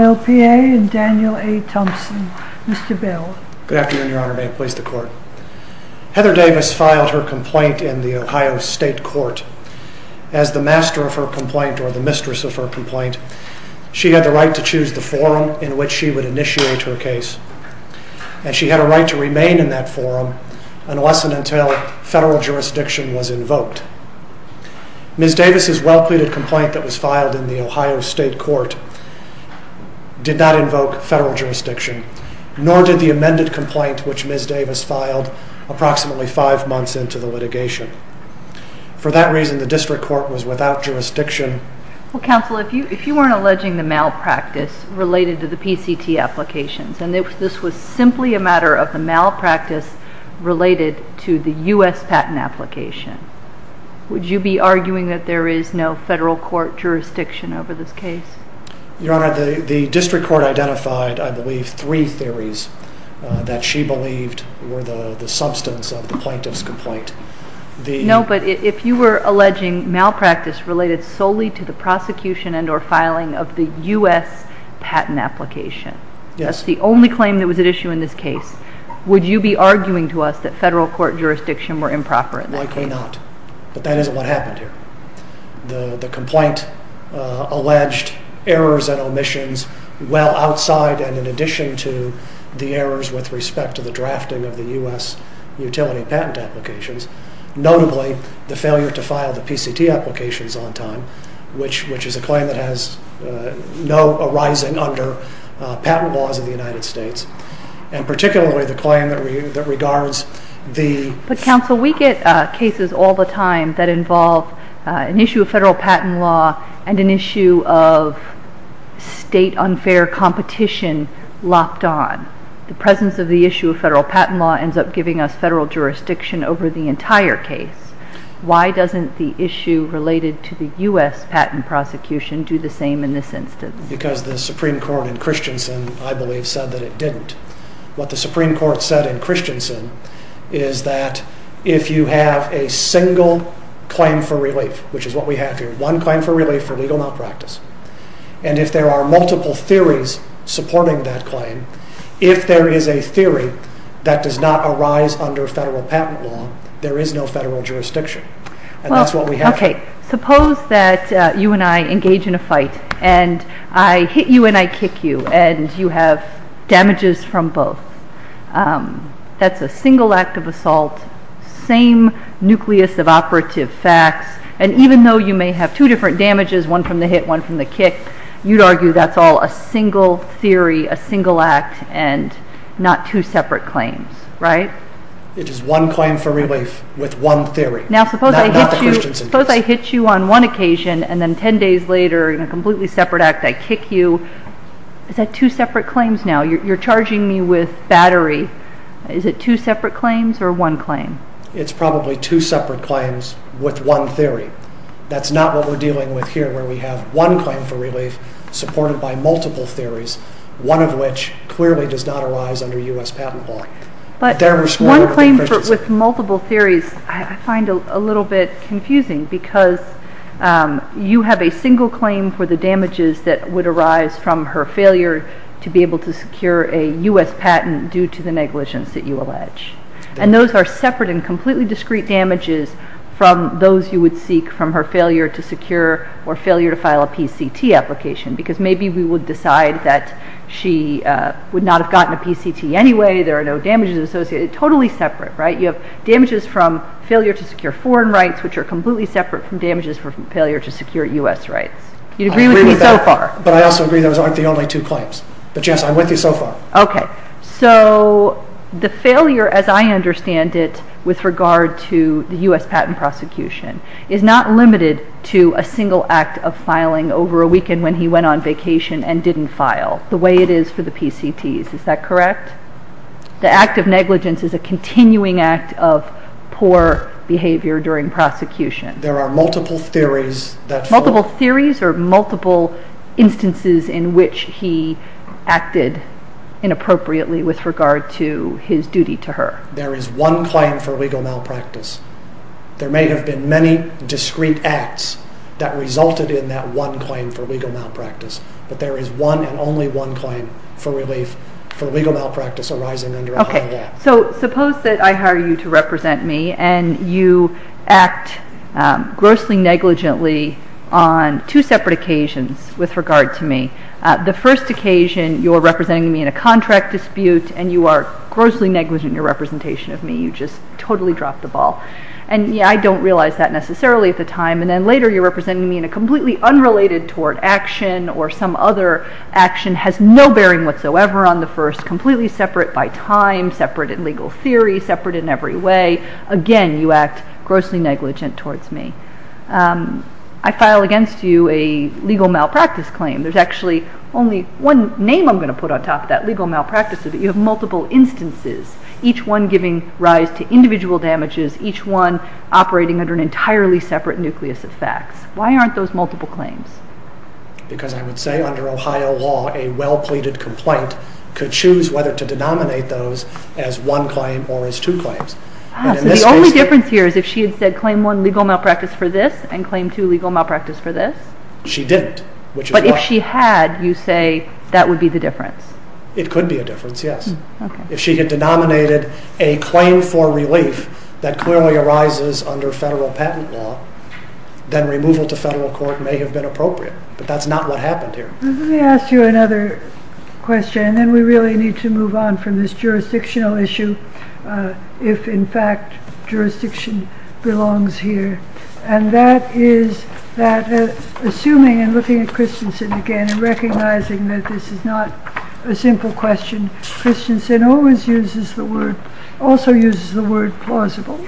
LPA and Daniel A. Thompson. Mr. Bill. Good afternoon, Your Honor. May it please the court. Heather Davis filed her complaint in the Ohio State Court. As the master of her complaint, or the mistress of her complaint, she had the right to choose the forum in which she would initiate her case. And she had a right to remain in that forum unless and until federal jurisdiction was invoked. Ms. Davis' well-pleaded complaint that was filed in the Ohio State Court, did not invoke federal jurisdiction, nor did the amended complaint which Ms. Davis filed approximately five months into the litigation. For that reason, the district court was without jurisdiction. Well, counsel, if you weren't alleging the malpractice related to the PCT applications, and this was simply a matter of the malpractice related to the U.S. patent application, would you be arguing that there is no federal court jurisdiction over this case? Your Honor, the district court identified, I believe, three theories that she believed were the substance of the plaintiff's complaint. No, but if you were alleging malpractice related solely to the prosecution and or filing of the U.S. patent application, that's the only claim that was at issue in this case, would you be arguing to us that federal court jurisdiction were improper in that case? Likely not, but that isn't what happened here. The complaint alleged errors and omissions well outside and in addition to the errors with respect to the drafting of the U.S. utility patent applications, notably the failure to file the PCT applications on time, which is a claim that has no arising under patent laws of the United States, and particularly the claim that regards the... But counsel, we get cases all the time that involve an issue of federal patent law and an issue of state unfair competition locked on. The presence of the issue of federal patent law ends up giving us federal jurisdiction over the entire case. Why doesn't the issue related to the U.S. patent prosecution do the same in this instance? Because the Supreme Court in Christensen, I believe, said that it didn't. What the Supreme Court said in Christensen is that if you have a single claim for relief, which is what we have here, one claim for relief for legal malpractice, and if there are multiple theories supporting that claim, if there is a theory that does not arise under federal patent law, there is no federal jurisdiction. And that's what we have here. Suppose that you and I engage in a fight, and I hit you and I kick you, and you have damages from both. That's a single act of assault, same nucleus of operative facts, and even though you may have two different damages, one from the hit, one from the kick, you'd argue that's all a single theory, a single act, and not two separate claims, right? It is one claim for relief with one theory. Now suppose I hit you on one occasion, and then ten days later, in a completely separate act, I kick you. Is that two separate claims now? You're charging me with battery. Is it two separate claims or one claim? It's probably two separate claims with one theory. That's not what we're dealing with here, where we have one claim for relief supported by multiple theories, one of which clearly does not arise under U.S. patent law. But one claim with multiple theories I find a little bit confusing, because you have a single claim for the damages that would arise from her failure to be able to secure a U.S. patent due to the negligence that you allege. And those are separate and completely discrete damages from those you would seek from her failure to secure or failure to file a PCT application, because maybe we would decide that she would not have gotten a PCT anyway, there are no damages associated. Totally separate, right? You have damages from failure to secure foreign rights, which are completely separate from damages from failure to secure U.S. rights. You agree with me so far? But I also agree those aren't the only two claims. But yes, I'm with you so far. Okay, so the failure as I understand it with regard to the U.S. patent prosecution is not limited to a single act of filing over a weekend when he went on vacation and didn't file. The way it is for the PCTs, is that correct? The act of negligence is a continuing act of poor behavior during prosecution. There are multiple theories. Multiple theories or multiple instances in which he acted inappropriately with regard to his duty to her? There is one claim for legal malpractice. There may have been many discrete acts that resulted in that one claim for legal malpractice, but there is one and only one claim for relief for legal malpractice arising under a high law. So suppose that I hire you to represent me and you act grossly negligently on two separate occasions with regard to me. The first occasion, you're representing me in a contract dispute and you are grossly negligent in your representation of me. You just totally dropped the ball. And I don't realize that necessarily at the time. And then later you're representing me in a completely unrelated tort action or some other action has no bearing whatsoever on the first, completely separate by time, separate in legal theory, separate in every way. Again, you act grossly negligent towards me. I file against you a legal malpractice claim. There's actually only one name I'm going to put on top of that, legal malpractice, but you have multiple instances, each one giving rise to individual damages, each one operating under an entirely separate nucleus of facts. Why aren't those multiple claims? Because I would say under Ohio law, a well-pleaded complaint could choose whether to denominate those as one claim or as two claims. So the only difference here is if she had said claim one legal malpractice for this and claim two legal malpractice for this? She didn't. But if she had, you say that would be the difference? It could be a difference, yes. If she had denominated a claim for relief that clearly arises under federal patent law, then removal to federal court may have been appropriate, but that's not what happened here. Let me ask you another question, and then we really need to move on from this jurisdictional issue, if, in fact, jurisdiction belongs here, and that is that assuming and looking at Christensen again and recognizing that this is not a simple question, Christensen always uses the word, also uses the word plausible,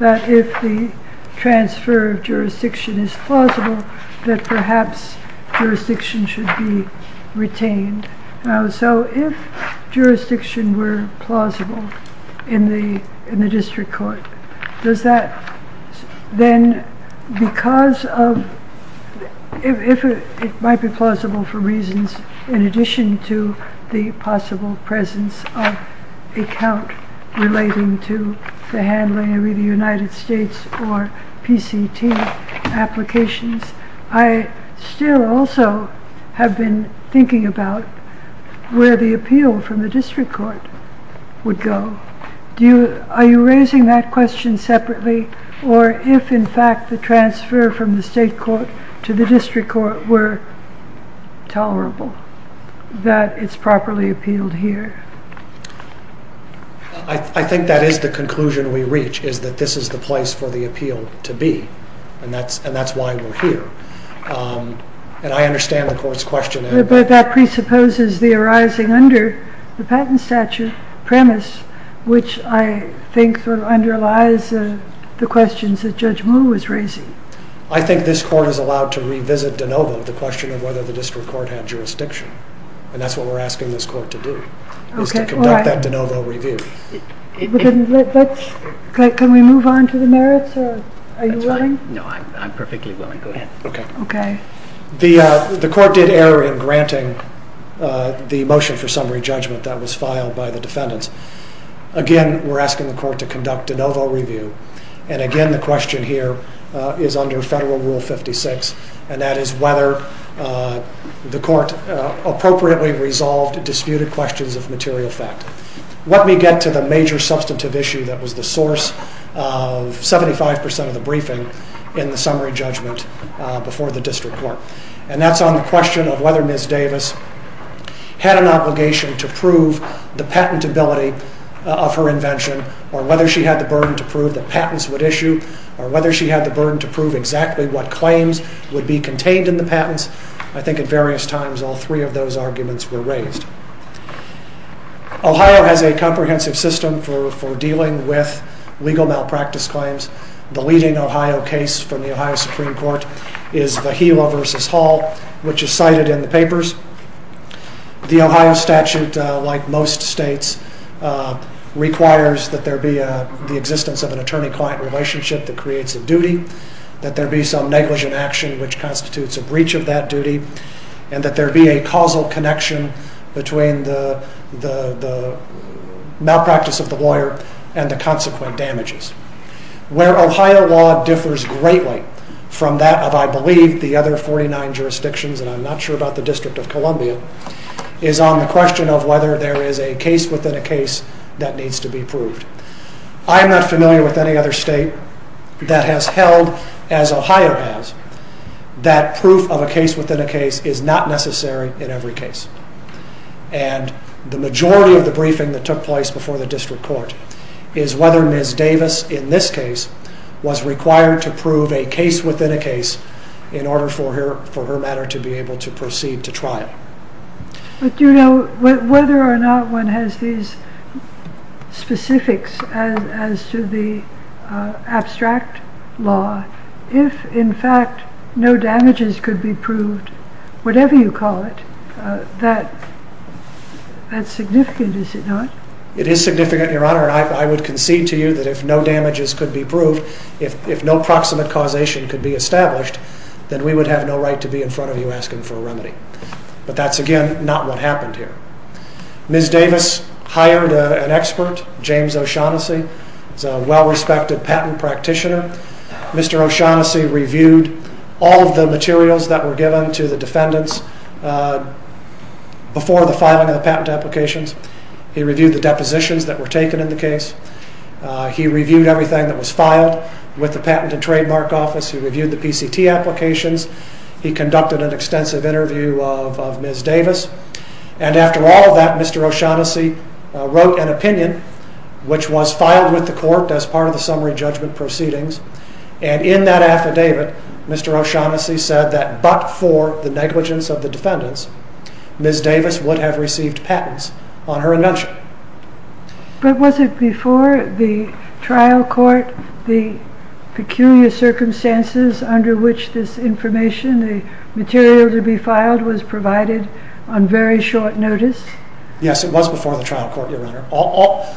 that if the transfer of jurisdiction is plausible, that perhaps jurisdiction should be retained. So if jurisdiction were plausible in the district court, does that then, because of, if it might be plausible for reasons in addition to the possible presence of account relating to the handling of either United States or PCT applications, I still also have been thinking about where the appeal from the district court would go. Are you raising that question separately, or if, in fact, the transfer from the state court to the district court were tolerable, that it's properly appealed here? I think that is the conclusion we reach, is that this is the place for the appeal to be, and that's why we're here. And I understand the court's question. But that presupposes the arising under the patent statute premise, which I think sort of underlies the questions that Judge Moore was raising. I think this court is allowed to revisit de novo the question of whether the district court had jurisdiction, and that's what we're asking this court to do, is to conduct that de novo review. Can we move on to the merits, or are you willing? No, I'm perfectly willing. Go ahead. Okay. The court did err in granting the motion for summary judgment that was filed by the defendants. Again, we're asking the court to conduct de novo review. And, again, the question here is under Federal Rule 56, and that is whether the court appropriately resolved disputed questions of material fact. Let me get to the major substantive issue that was the source of 75% of the briefing in the summary judgment before the district court, and that's on the question of whether Ms. Davis had an obligation to prove the patentability of her invention, or whether she had the burden to prove that patents would issue, or whether she had the burden to prove exactly what claims would be contained in the patents. I think at various times all three of those arguments were raised. Ohio has a comprehensive system for dealing with legal malpractice claims. The leading Ohio case from the Ohio Supreme Court is the Gila v. Hall, which is cited in the papers. The Ohio statute, like most states, requires that there be the existence of an attorney-client relationship that creates a duty, that there be some negligent action which constitutes a breach of that duty, and that there be a causal connection between the malpractice of the lawyer and the consequent damages. Where Ohio law differs greatly from that of, I believe, the other 49 jurisdictions, and I'm not sure about the District of Columbia, is on the question of whether there is a case within a case that needs to be proved. I am not familiar with any other state that has held, as Ohio has, that proof of a case within a case is not necessary in every case. And the majority of the briefing that took place before the District Court is whether Ms. Davis, in this case, was required to prove a case within a case in order for her matter to be able to proceed to trial. But, you know, whether or not one has these specifics as to the abstract law, if in fact no damages could be proved, whatever you call it, that's significant, is it not? It is significant, Your Honor, and I would concede to you that if no damages could be proved, if no proximate causation could be established, then we would have no right to be in front of you asking for a remedy. But that's, again, not what happened here. Ms. Davis hired an expert, James O'Shaughnessy. He's a well-respected patent practitioner. Mr. O'Shaughnessy reviewed all of the materials that were given to the defendants before the filing of the patent applications. He reviewed the depositions that were taken in the case. He reviewed everything that was filed with the Patent and Trademark Office. He reviewed the PCT applications. He conducted an extensive interview of Ms. Davis. And after all of that, Mr. O'Shaughnessy wrote an opinion, which was filed with the court as part of the summary judgment proceedings. And in that affidavit, Mr. O'Shaughnessy said that but for the negligence of the defendants, Ms. Davis would have received patents on her invention. But was it before the trial court the peculiar circumstances under which this information, the material to be filed, was provided on very short notice? Yes, it was before the trial court, Your Honor.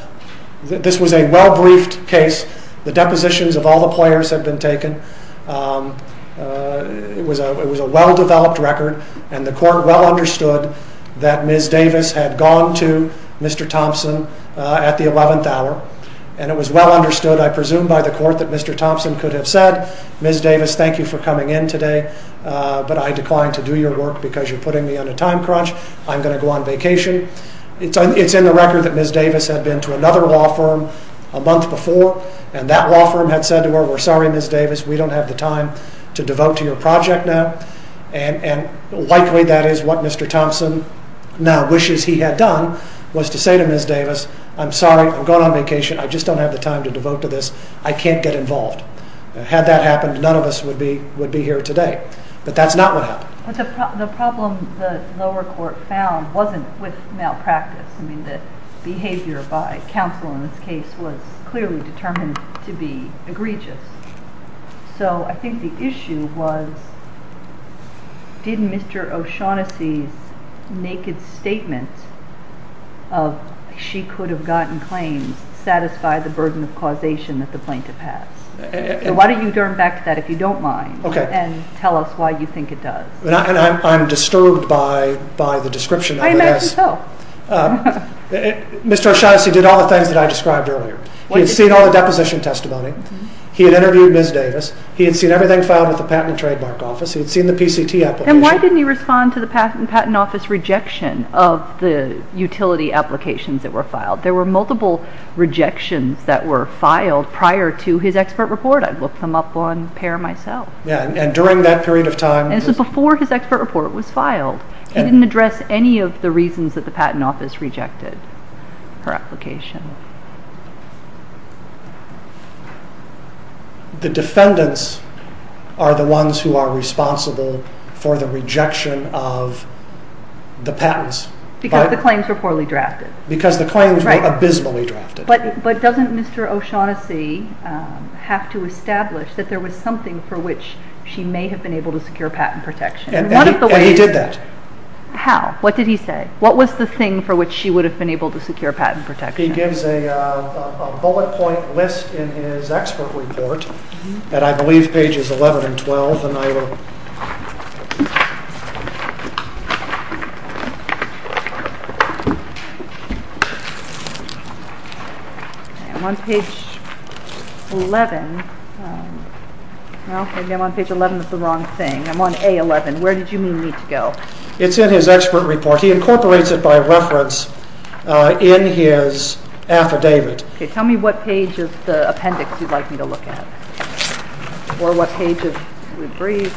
This was a well-briefed case. The depositions of all the players had been taken. It was a well-developed record, and the court well understood that Ms. Davis had gone to Mr. Thompson at the 11th hour. And it was well understood, I presume, by the court that Mr. Thompson could have said, Ms. Davis, thank you for coming in today, but I decline to do your work because you're putting me on a time crunch. I'm going to go on vacation. It's in the record that Ms. Davis had been to another law firm a month before, and that law firm had said to her, we're sorry, Ms. Davis, we don't have the time to devote to your project now. And likely that is what Mr. Thompson now wishes he had done, was to say to Ms. Davis, I'm sorry, I'm going on vacation. I just don't have the time to devote to this. I can't get involved. Had that happened, none of us would be here today. But that's not what happened. But the problem the lower court found wasn't with malpractice. I mean, the behavior by counsel in this case was clearly determined to be egregious. So I think the issue was, did Mr. O'Shaughnessy's naked statement of she could have gotten claims satisfy the burden of causation that the plaintiff has? So why don't you turn back to that, if you don't mind, and tell us why you think it does. And I'm disturbed by the description of this. I imagine so. Mr. O'Shaughnessy did all the things that I described earlier. He had seen all the deposition testimony. He had interviewed Ms. Davis. He had seen everything filed with the Patent and Trademark Office. He had seen the PCT application. Then why didn't he respond to the Patent and Trademark Office rejection of the utility applications that were filed? There were multiple rejections that were filed prior to his expert report. I looked them up on PAIR myself. Yeah, and during that period of time. And this was before his expert report was filed. He didn't address any of the reasons that the Patent Office rejected her application. The defendants are the ones who are responsible for the rejection of the patents. Because the claims were poorly drafted. Because the claims were abysmally drafted. But doesn't Mr. O'Shaughnessy have to establish that there was something for which she may have been able to secure patent protection? And he did that. How? What did he say? What was the thing for which she would have been able to secure patent protection? He gives a bullet point list in his expert report. And I believe pages 11 and 12. I'm on page 11. Well, maybe I'm on page 11 is the wrong thing. I'm on A11. Where did you mean me to go? It's in his expert report. He incorporates it by reference in his affidavit. Okay. Tell me what page is the appendix you'd like me to look at. Or what page of the brief.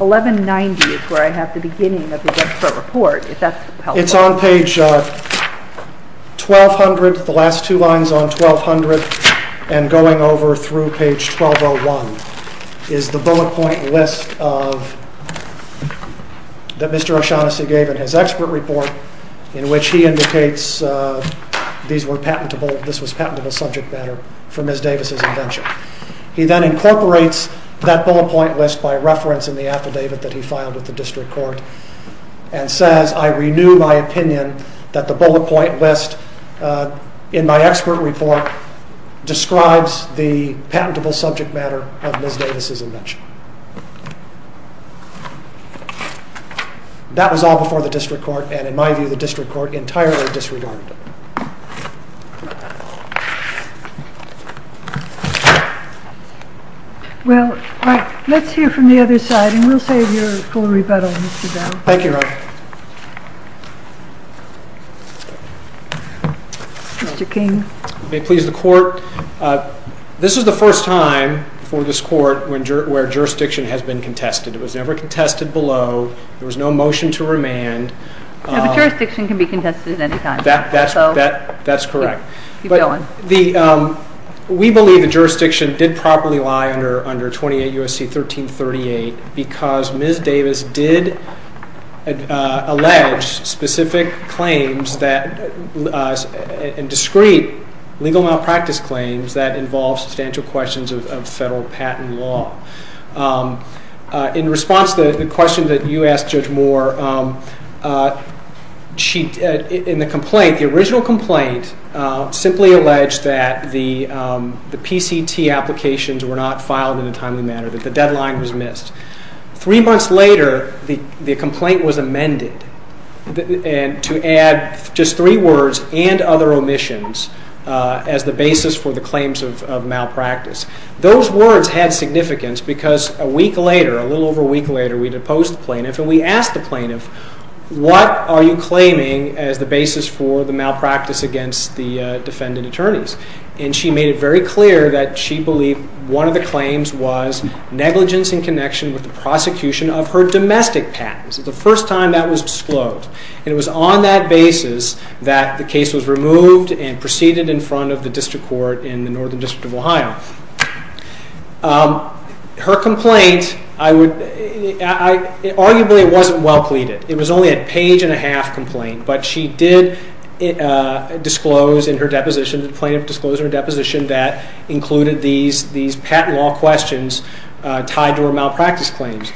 1190 is where I have the beginning of the expert report. If that's helpful. It's on page 1200. The last two lines on 1200. And going over through page 1201. Is the bullet point list of. That Mr. O'Shaughnessy gave in his expert report. In which he indicates these were patentable. This was patentable subject matter for Ms. Davis' invention. He then incorporates that bullet point list by reference in the affidavit that he filed with the district court. And says, I renew my opinion that the bullet point list in my expert report. Describes the patentable subject matter of Ms. Davis' invention. That was all before the district court. And in my view the district court entirely disregarded it. Well, let's hear from the other side. And we'll save your full rebuttal. Thank you. Mr. King. May it please the court. This is the first time for this court where jurisdiction has been contested. It was never contested below. There was no motion to remand. The jurisdiction can be contested at any time. That's correct. Keep going. We believe the jurisdiction did properly lie under 28 U.S.C. 1338. Because Ms. Davis did allege specific claims and discreet legal malpractice claims that involve substantial questions of federal patent law. In response to the question that you asked Judge Moore, in the complaint, the original complaint simply alleged that the PCT applications were not filed in a timely manner. That the deadline was missed. Three months later, the complaint was amended to add just three words, and other omissions as the basis for the claims of malpractice. Those words had significance because a week later, a little over a week later, we had opposed the plaintiff and we asked the plaintiff, what are you claiming as the basis for the malpractice against the defendant attorneys? And she made it very clear that she believed one of the claims was negligence in connection with the prosecution of her domestic patents. It was the first time that was disclosed. And it was on that basis that the case was removed and proceeded in front of the district court in the Northern District of Ohio. Her complaint, arguably it wasn't well pleaded. It was only a page and a half complaint. But she did disclose in her deposition, the plaintiff disclosed in her deposition, that included these patent law questions tied to her malpractice claims.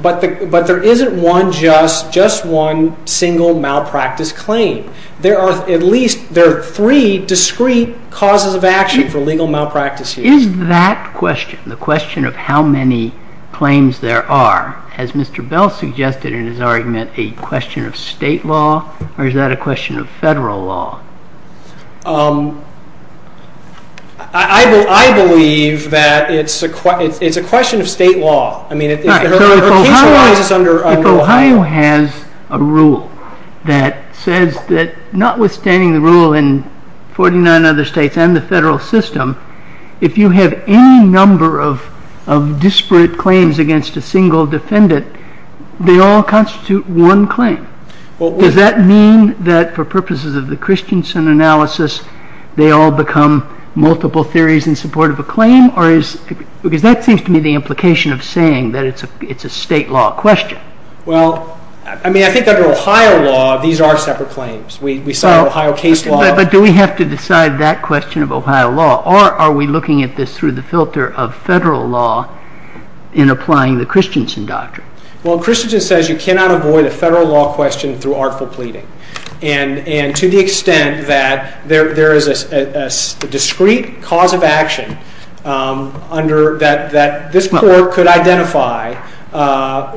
But there isn't just one single malpractice claim. There are at least three discrete causes of action for legal malpractice. Is that question, the question of how many claims there are, as Mr. Bell suggested in his argument, a question of state law or is that a question of federal law? I believe that it's a question of state law. If Ohio has a rule that says that notwithstanding the rule in 49 other states and the federal system, if you have any number of disparate claims against a single defendant, they all constitute one claim. Does that mean that for purposes of the Christensen analysis, they all become multiple theories in support of a claim? Because that seems to me the implication of saying that it's a state law question. Well, I mean, I think under Ohio law, these are separate claims. We saw Ohio case law. But do we have to decide that question of Ohio law or are we looking at this through the filter of federal law in applying the Christensen doctrine? Well, Christensen says you cannot avoid a federal law question through artful pleading. And to the extent that there is a discrete cause of action that this court could identify,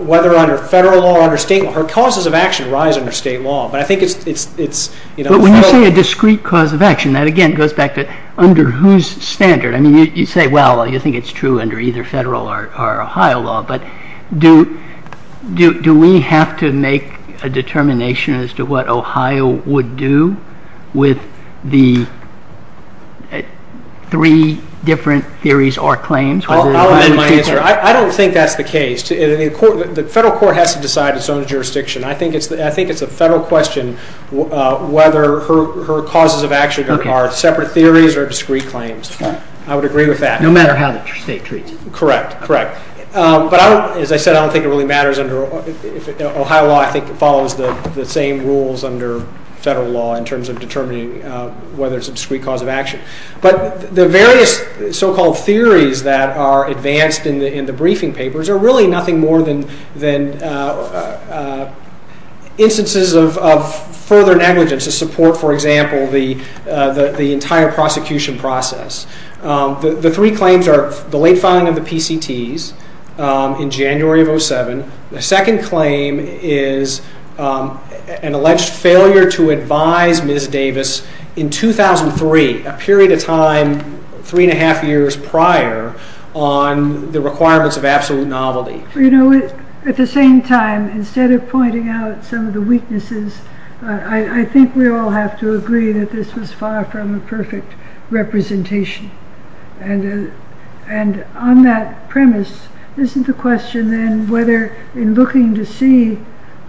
whether under federal law or under state law, the causes of action rise under state law. But when you say a discrete cause of action, that again goes back to under whose standard? I mean, you say, well, you think it's true under either federal or Ohio law. But do we have to make a determination as to what Ohio would do with the three different theories or claims? I'll amend my answer. I don't think that's the case. The federal court has to decide its own jurisdiction. I think it's a federal question whether her causes of action are separate theories or discrete claims. I would agree with that. No matter how the state treats it. Correct, correct. But as I said, I don't think it really matters under Ohio law. I think it follows the same rules under federal law in terms of determining whether it's a discrete cause of action. But the various so-called theories that are advanced in the briefing papers are really nothing more than instances of further negligence to support, for example, the entire prosecution process. The three claims are the late filing of the PCTs in January of 2007. The second claim is an alleged failure to advise Ms. Davis in 2003, a period of time three and a half years prior, on the requirements of absolute novelty. You know, at the same time, instead of pointing out some of the weaknesses, I think we all have to agree that this was far from a perfect representation. And on that premise, isn't the question then whether in looking to see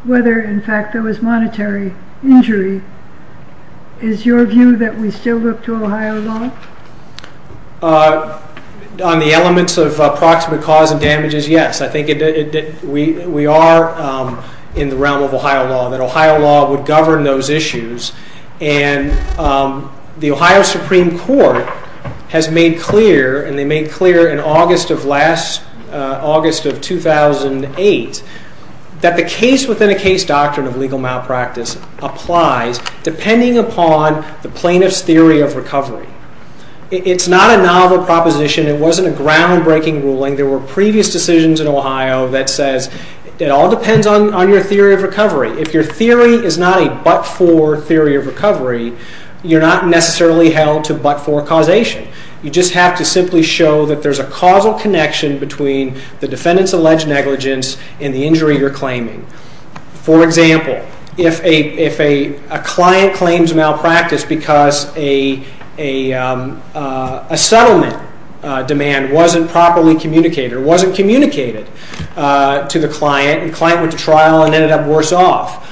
whether, in fact, there was monetary injury, is your view that we still look to Ohio law? On the elements of approximate cause and damages, yes. I think we are in the realm of Ohio law, that Ohio law would govern those issues. And the Ohio Supreme Court has made clear, and they made clear in August of 2008, that the case-within-a-case doctrine of legal malpractice applies depending upon the plaintiff's theory of recovery. It's not a novel proposition. It wasn't a groundbreaking ruling. There were previous decisions in Ohio that says it all depends on your theory of recovery. If your theory is not a but-for theory of recovery, you're not necessarily held to but-for causation. You just have to simply show that there's a causal connection between the defendant's alleged negligence and the injury you're claiming. For example, if a client claims malpractice because a settlement demand wasn't properly communicated, wasn't communicated to the client, and the client went to trial and ended up worse off,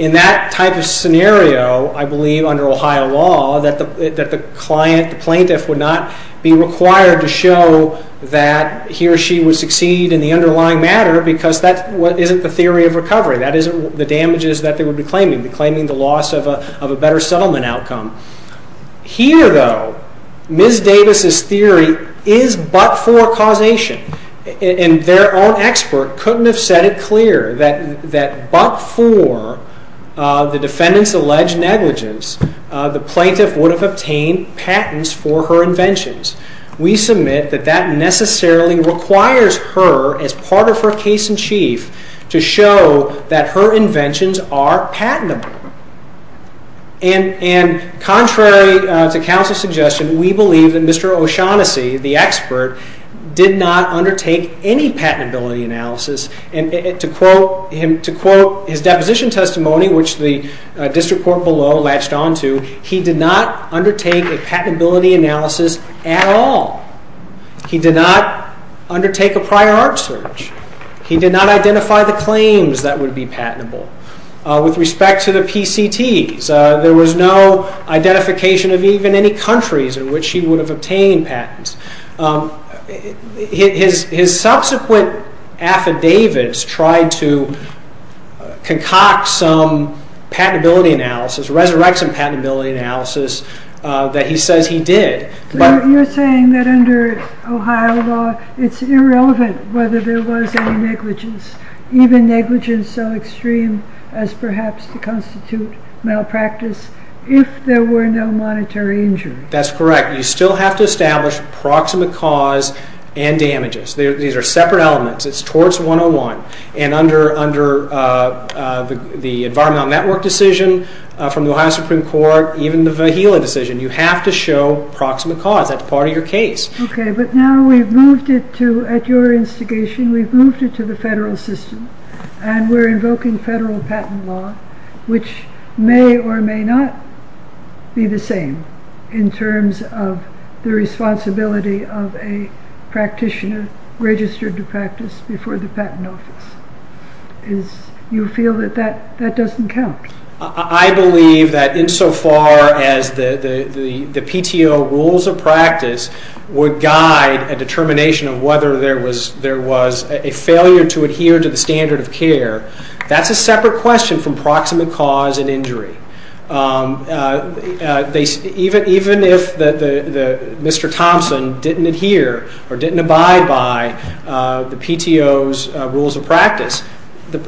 in that type of scenario, I believe under Ohio law, that the client, the plaintiff, would not be required to show that he or she would succeed in the underlying matter because that isn't the theory of recovery. That isn't the damages that they would be claiming. They're claiming the loss of a better settlement outcome. Here, though, Ms. Davis's theory is but-for causation. Their own expert couldn't have said it clear that but-for the defendant's alleged negligence, the plaintiff would have obtained patents for her inventions. We submit that that necessarily requires her, as part of her case in chief, to show that her inventions are patentable. Contrary to counsel's suggestion, we believe that Mr. O'Shaughnessy, the expert, did not undertake any patentability analysis. To quote his deposition testimony, which the district court below latched onto, he did not undertake a patentability analysis at all. He did not undertake a prior art search. He did not identify the claims that would be patentable. With respect to the PCTs, there was no identification of even any countries in which he would have obtained patents. His subsequent affidavits tried to concoct some patentability analysis, resurrection patentability analysis, that he says he did. You're saying that under Ohio law, it's irrelevant whether there was any negligence, even negligence so extreme as perhaps to constitute malpractice, if there were no monetary injury. That's correct. You still have to establish proximate cause and damages. These are separate elements. It's torts 101. Under the Environmental Network Decision from the Ohio Supreme Court, even the Vajilla Decision, you have to show proximate cause. That's part of your case. Okay, but now we've moved it to, at your instigation, we've moved it to the federal system, and we're invoking federal patent law, which may or may not be the same in terms of the responsibility of a practitioner registered to practice before the patent office. Do you feel that that doesn't count? I believe that insofar as the PTO rules of practice would guide a determination of whether there was a failure to adhere to the standard of care, that's a separate question from proximate cause and injury. Even if Mr. Thompson didn't adhere or didn't abide by the PTO's rules of practice,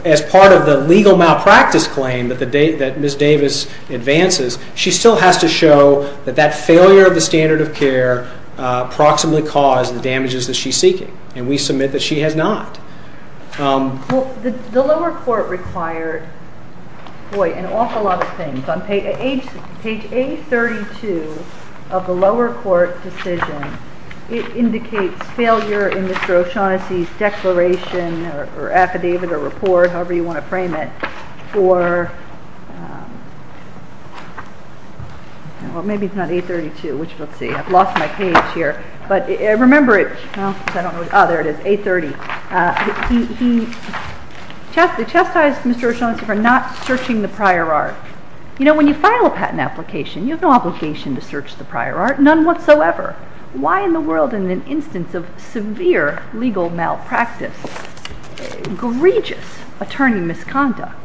as part of the legal malpractice claim that Ms. Davis advances, she still has to show that that failure of the standard of care proximately caused the damages that she's seeking, and we submit that she has not. The lower court required, boy, an awful lot of things. On page A32 of the lower court decision, it indicates failure in Mr. O'Shaughnessy's declaration or affidavit or report, however you want to frame it, well, maybe it's not A32, which, let's see, I've lost my page here, but remember it, oh, there it is, A30. He chastised Mr. O'Shaughnessy for not searching the prior art. You know, when you file a patent application, you have no obligation to search the prior art, none whatsoever. Why in the world, in an instance of severe legal malpractice, egregious attorney misconduct,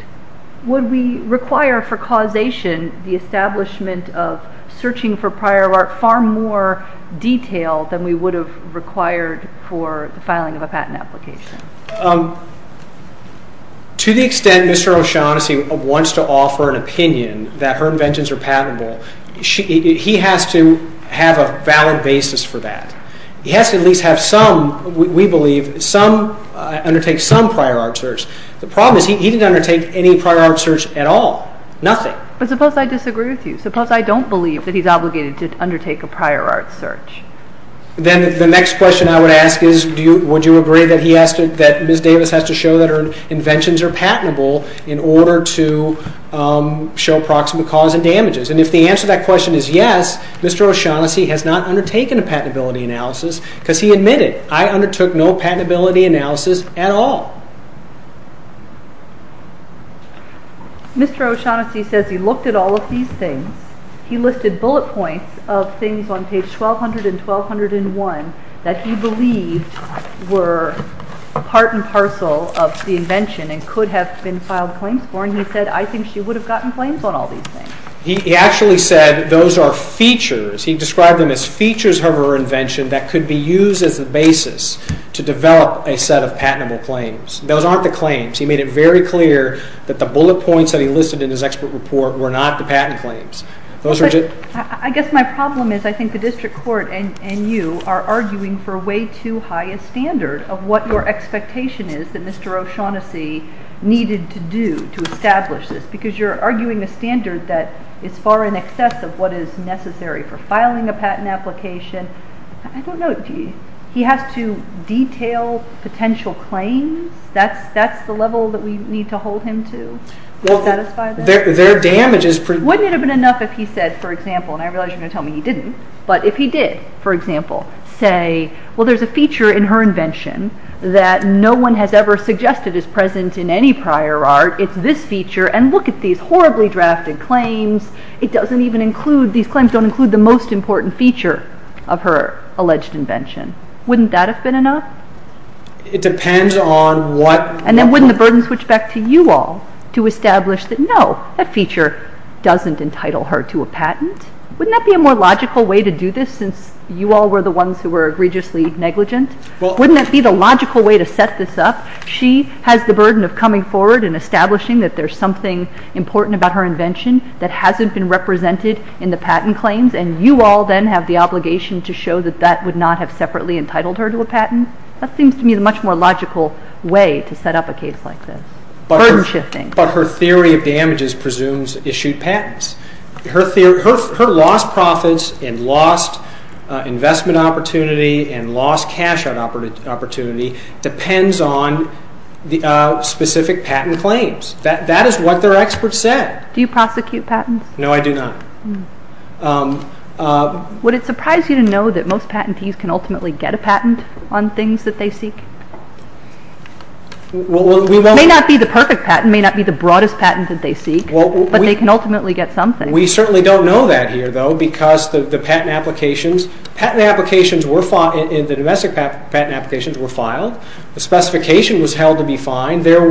would we require for causation the establishment of searching for prior art far more detailed than we would have required for the filing of a patent application? To the extent Mr. O'Shaughnessy wants to offer an opinion that her inventions are patentable, he has to have a valid basis for that. He has to at least have some, we believe, undertake some prior art search. The problem is he didn't undertake any prior art search at all, nothing. But suppose I disagree with you. Suppose I don't believe that he's obligated to undertake a prior art search. Then the next question I would ask is, would you agree that Ms. Davis has to show that her inventions are patentable in order to show proximate cause and damages? And if the answer to that question is yes, Mr. O'Shaughnessy has not undertaken a patentability analysis because he admitted, I undertook no patentability analysis at all. Mr. O'Shaughnessy says he looked at all of these things. He listed bullet points of things on page 1200 and 1201 that he believed were part and parcel of the invention and could have been filed claims for. And he said, I think she would have gotten claims on all these things. He actually said those are features. He described them as features of her invention that could be used as a basis to develop a set of patentable claims. Those aren't the claims. He made it very clear that the bullet points that he listed in his expert report were not the patent claims. I guess my problem is I think the district court and you are arguing for way too high a standard of what your expectation is that Mr. O'Shaughnessy needed to do to establish this. Because you're arguing a standard that is far in excess of what is necessary for filing a patent application. I don't know. He has to detail potential claims? That's the level that we need to hold him to? Wouldn't it have been enough if he said, for example, and I realize you're going to tell me he didn't. But if he did, for example, say, well, there's a feature in her invention that no one has ever suggested is present in any prior art. It's this feature. And look at these horribly drafted claims. It doesn't even include, these claims don't include the most important feature of her alleged invention. Wouldn't that have been enough? It depends on what. And then wouldn't the burden switch back to you all to establish that no, that feature doesn't entitle her to a patent? Wouldn't that be a more logical way to do this since you all were the ones who were egregiously negligent? Wouldn't that be the logical way to set this up? She has the burden of coming forward and establishing that there's something important about her invention that hasn't been represented in the patent claims. And you all then have the obligation to show that that would not have separately entitled her to a patent? That seems to me the much more logical way to set up a case like this, burden shifting. But her theory of damages presumes issued patents. Her lost profits and lost investment opportunity and lost cash out opportunity depends on specific patent claims. That is what their experts said. Do you prosecute patents? No, I do not. Would it surprise you to know that most patentees can ultimately get a patent on things that they seek? It may not be the perfect patent. It may not be the broadest patent that they seek, but they can ultimately get something. We certainly don't know that here, though, because the patent applications were filed. The domestic patent applications were filed. The specification was held to be fine. And there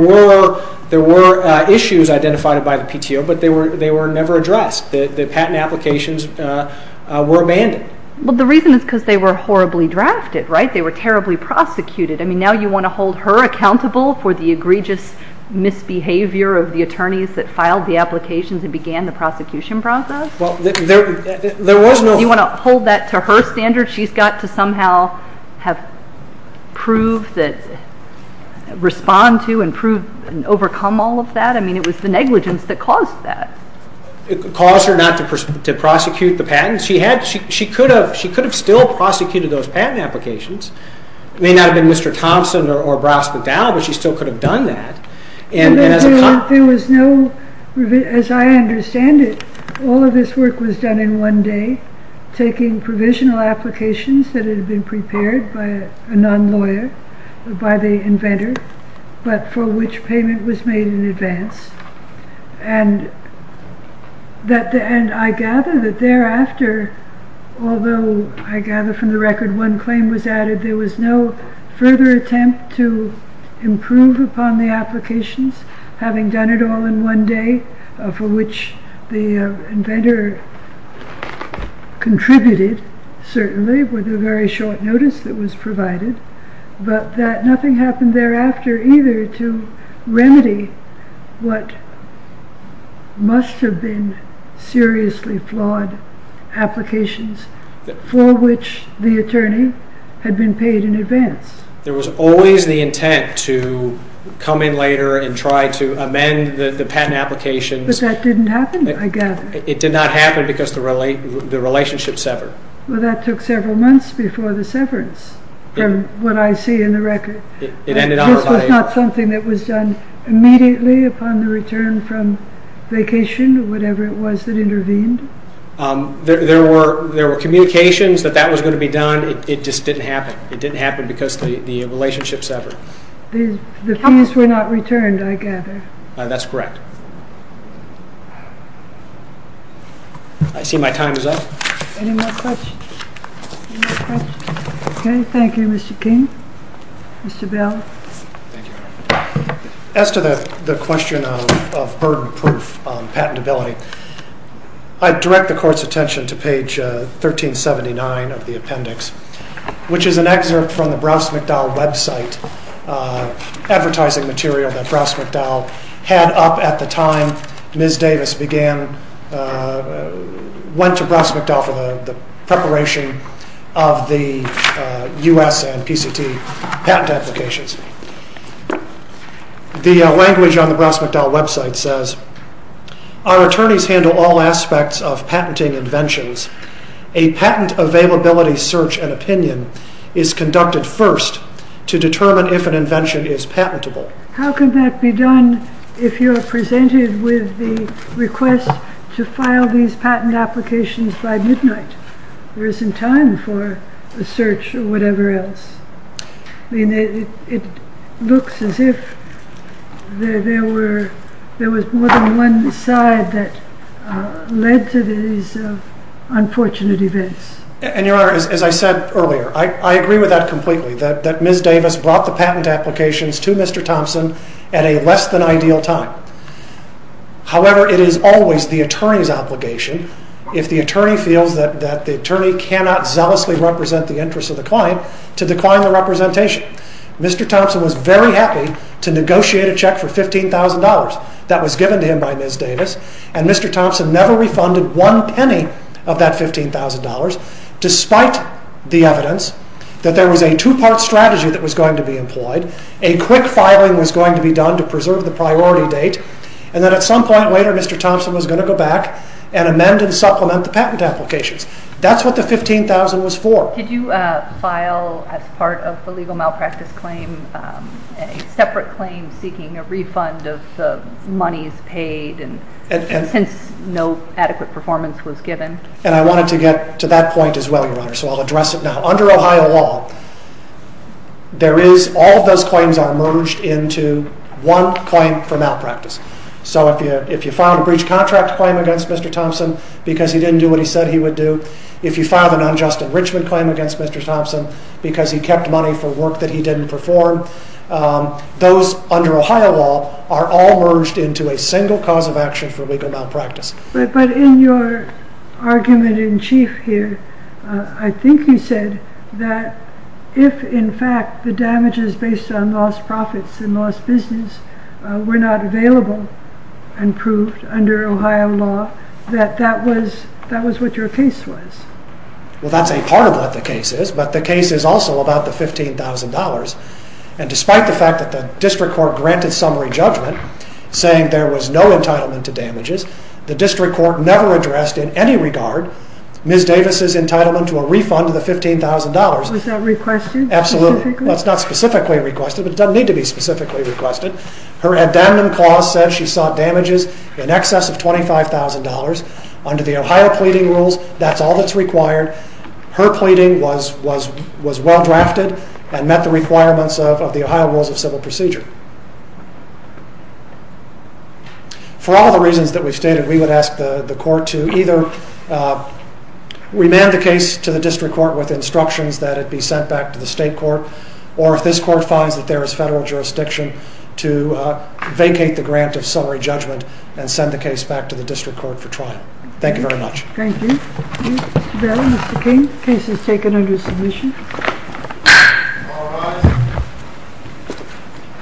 were issues identified by the PTO, but they were never addressed. The patent applications were abandoned. Well, the reason is because they were horribly drafted, right? They were terribly prosecuted. I mean, now you want to hold her accountable for the egregious misbehavior of the attorneys that filed the applications and began the prosecution process? Well, there was no – I mean, it was the negligence that caused that. It caused her not to prosecute the patents. She could have still prosecuted those patent applications. It may not have been Mr. Thompson or Brouse McDowell, but she still could have done that. There was no – as I understand it, all of this work was done in one day, taking provisional applications that had been prepared by a non-lawyer, by the inventor. But for which payment was made in advance. And I gather that thereafter, although I gather from the record one claim was added, there was no further attempt to improve upon the applications, having done it all in one day, for which the inventor contributed, certainly, with a very short notice that was provided. But nothing happened thereafter either to remedy what must have been seriously flawed applications, for which the attorney had been paid in advance. There was always the intent to come in later and try to amend the patent applications. But that didn't happen, I gather. It did not happen because the relationship severed. Well, that took several months before the severance, from what I see in the record. This was not something that was done immediately upon the return from vacation, whatever it was that intervened. There were communications that that was going to be done, it just didn't happen. It didn't happen because the relationship severed. The fees were not returned, I gather. That's correct. I see my time is up. Any more questions? Any more questions? Okay, thank you, Mr. King. Mr. Bell? Thank you, Your Honor. As to the question of burden proof patentability, I direct the Court's attention to page 1379 of the appendix, which is an excerpt from the Browse McDowell website, advertising material that Browse McDowell had up at the time Ms. Davis went to Browse McDowell for the preparation of the U.S. and PCT patent applications. The language on the Browse McDowell website says, Our attorneys handle all aspects of patenting inventions. A patent availability search and opinion is conducted first to determine if an invention is patentable. How can that be done if you are presented with the request to file these patent applications by midnight? There isn't time for a search or whatever else. It looks as if there was more than one side that led to these unfortunate events. And, Your Honor, as I said earlier, I agree with that completely, that Ms. Davis brought the patent applications to Mr. Thompson at a less than ideal time. However, it is always the attorney's obligation, if the attorney feels that the attorney cannot zealously represent the interests of the client, to decline the representation. Mr. Thompson was very happy to negotiate a check for $15,000 that was given to him by Ms. Davis, and Mr. Thompson never refunded one penny of that $15,000, despite the evidence that there was a two-part strategy that was going to be employed, a quick filing was going to be done to preserve the priority date, and then at some point later Mr. Thompson was going to go back and amend and supplement the patent applications. That's what the $15,000 was for. Did you file, as part of the legal malpractice claim, a separate claim seeking a refund of the monies paid since no adequate performance was given? And I wanted to get to that point as well, Your Honor, so I'll address it now. Under Ohio law, all of those claims are merged into one claim for malpractice. So if you filed a breach contract claim against Mr. Thompson because he didn't do what he said he would do, if you filed an unjust enrichment claim against Mr. Thompson because he kept money for work that he didn't perform, those under Ohio law are all merged into a single cause of action for legal malpractice. But in your argument in chief here, I think you said that if, in fact, the damages based on lost profits and lost business were not available and proved under Ohio law, that that was what your case was. Well, that's a part of what the case is, but the case is also about the $15,000, and despite the fact that the district court granted summary judgment saying there was no entitlement to damages, the district court never addressed in any regard Ms. Davis' entitlement to a refund of the $15,000. Was that requested? Absolutely. Specifically? Well, it's not specifically requested, but it doesn't need to be specifically requested. Her addendum clause says she sought damages in excess of $25,000. Under the Ohio pleading rules, that's all that's required. Her pleading was well drafted and met the requirements of the Ohio rules of civil procedure. For all the reasons that we've stated, we would ask the court to either remand the case to the district court with instructions that it be sent back to the state court, or if this court finds that there is federal jurisdiction, to vacate the grant of summary judgment and send the case back to the district court for trial. Thank you very much. Thank you. Mr. Barrow, Mr. King, the case is taken under submission. All rise.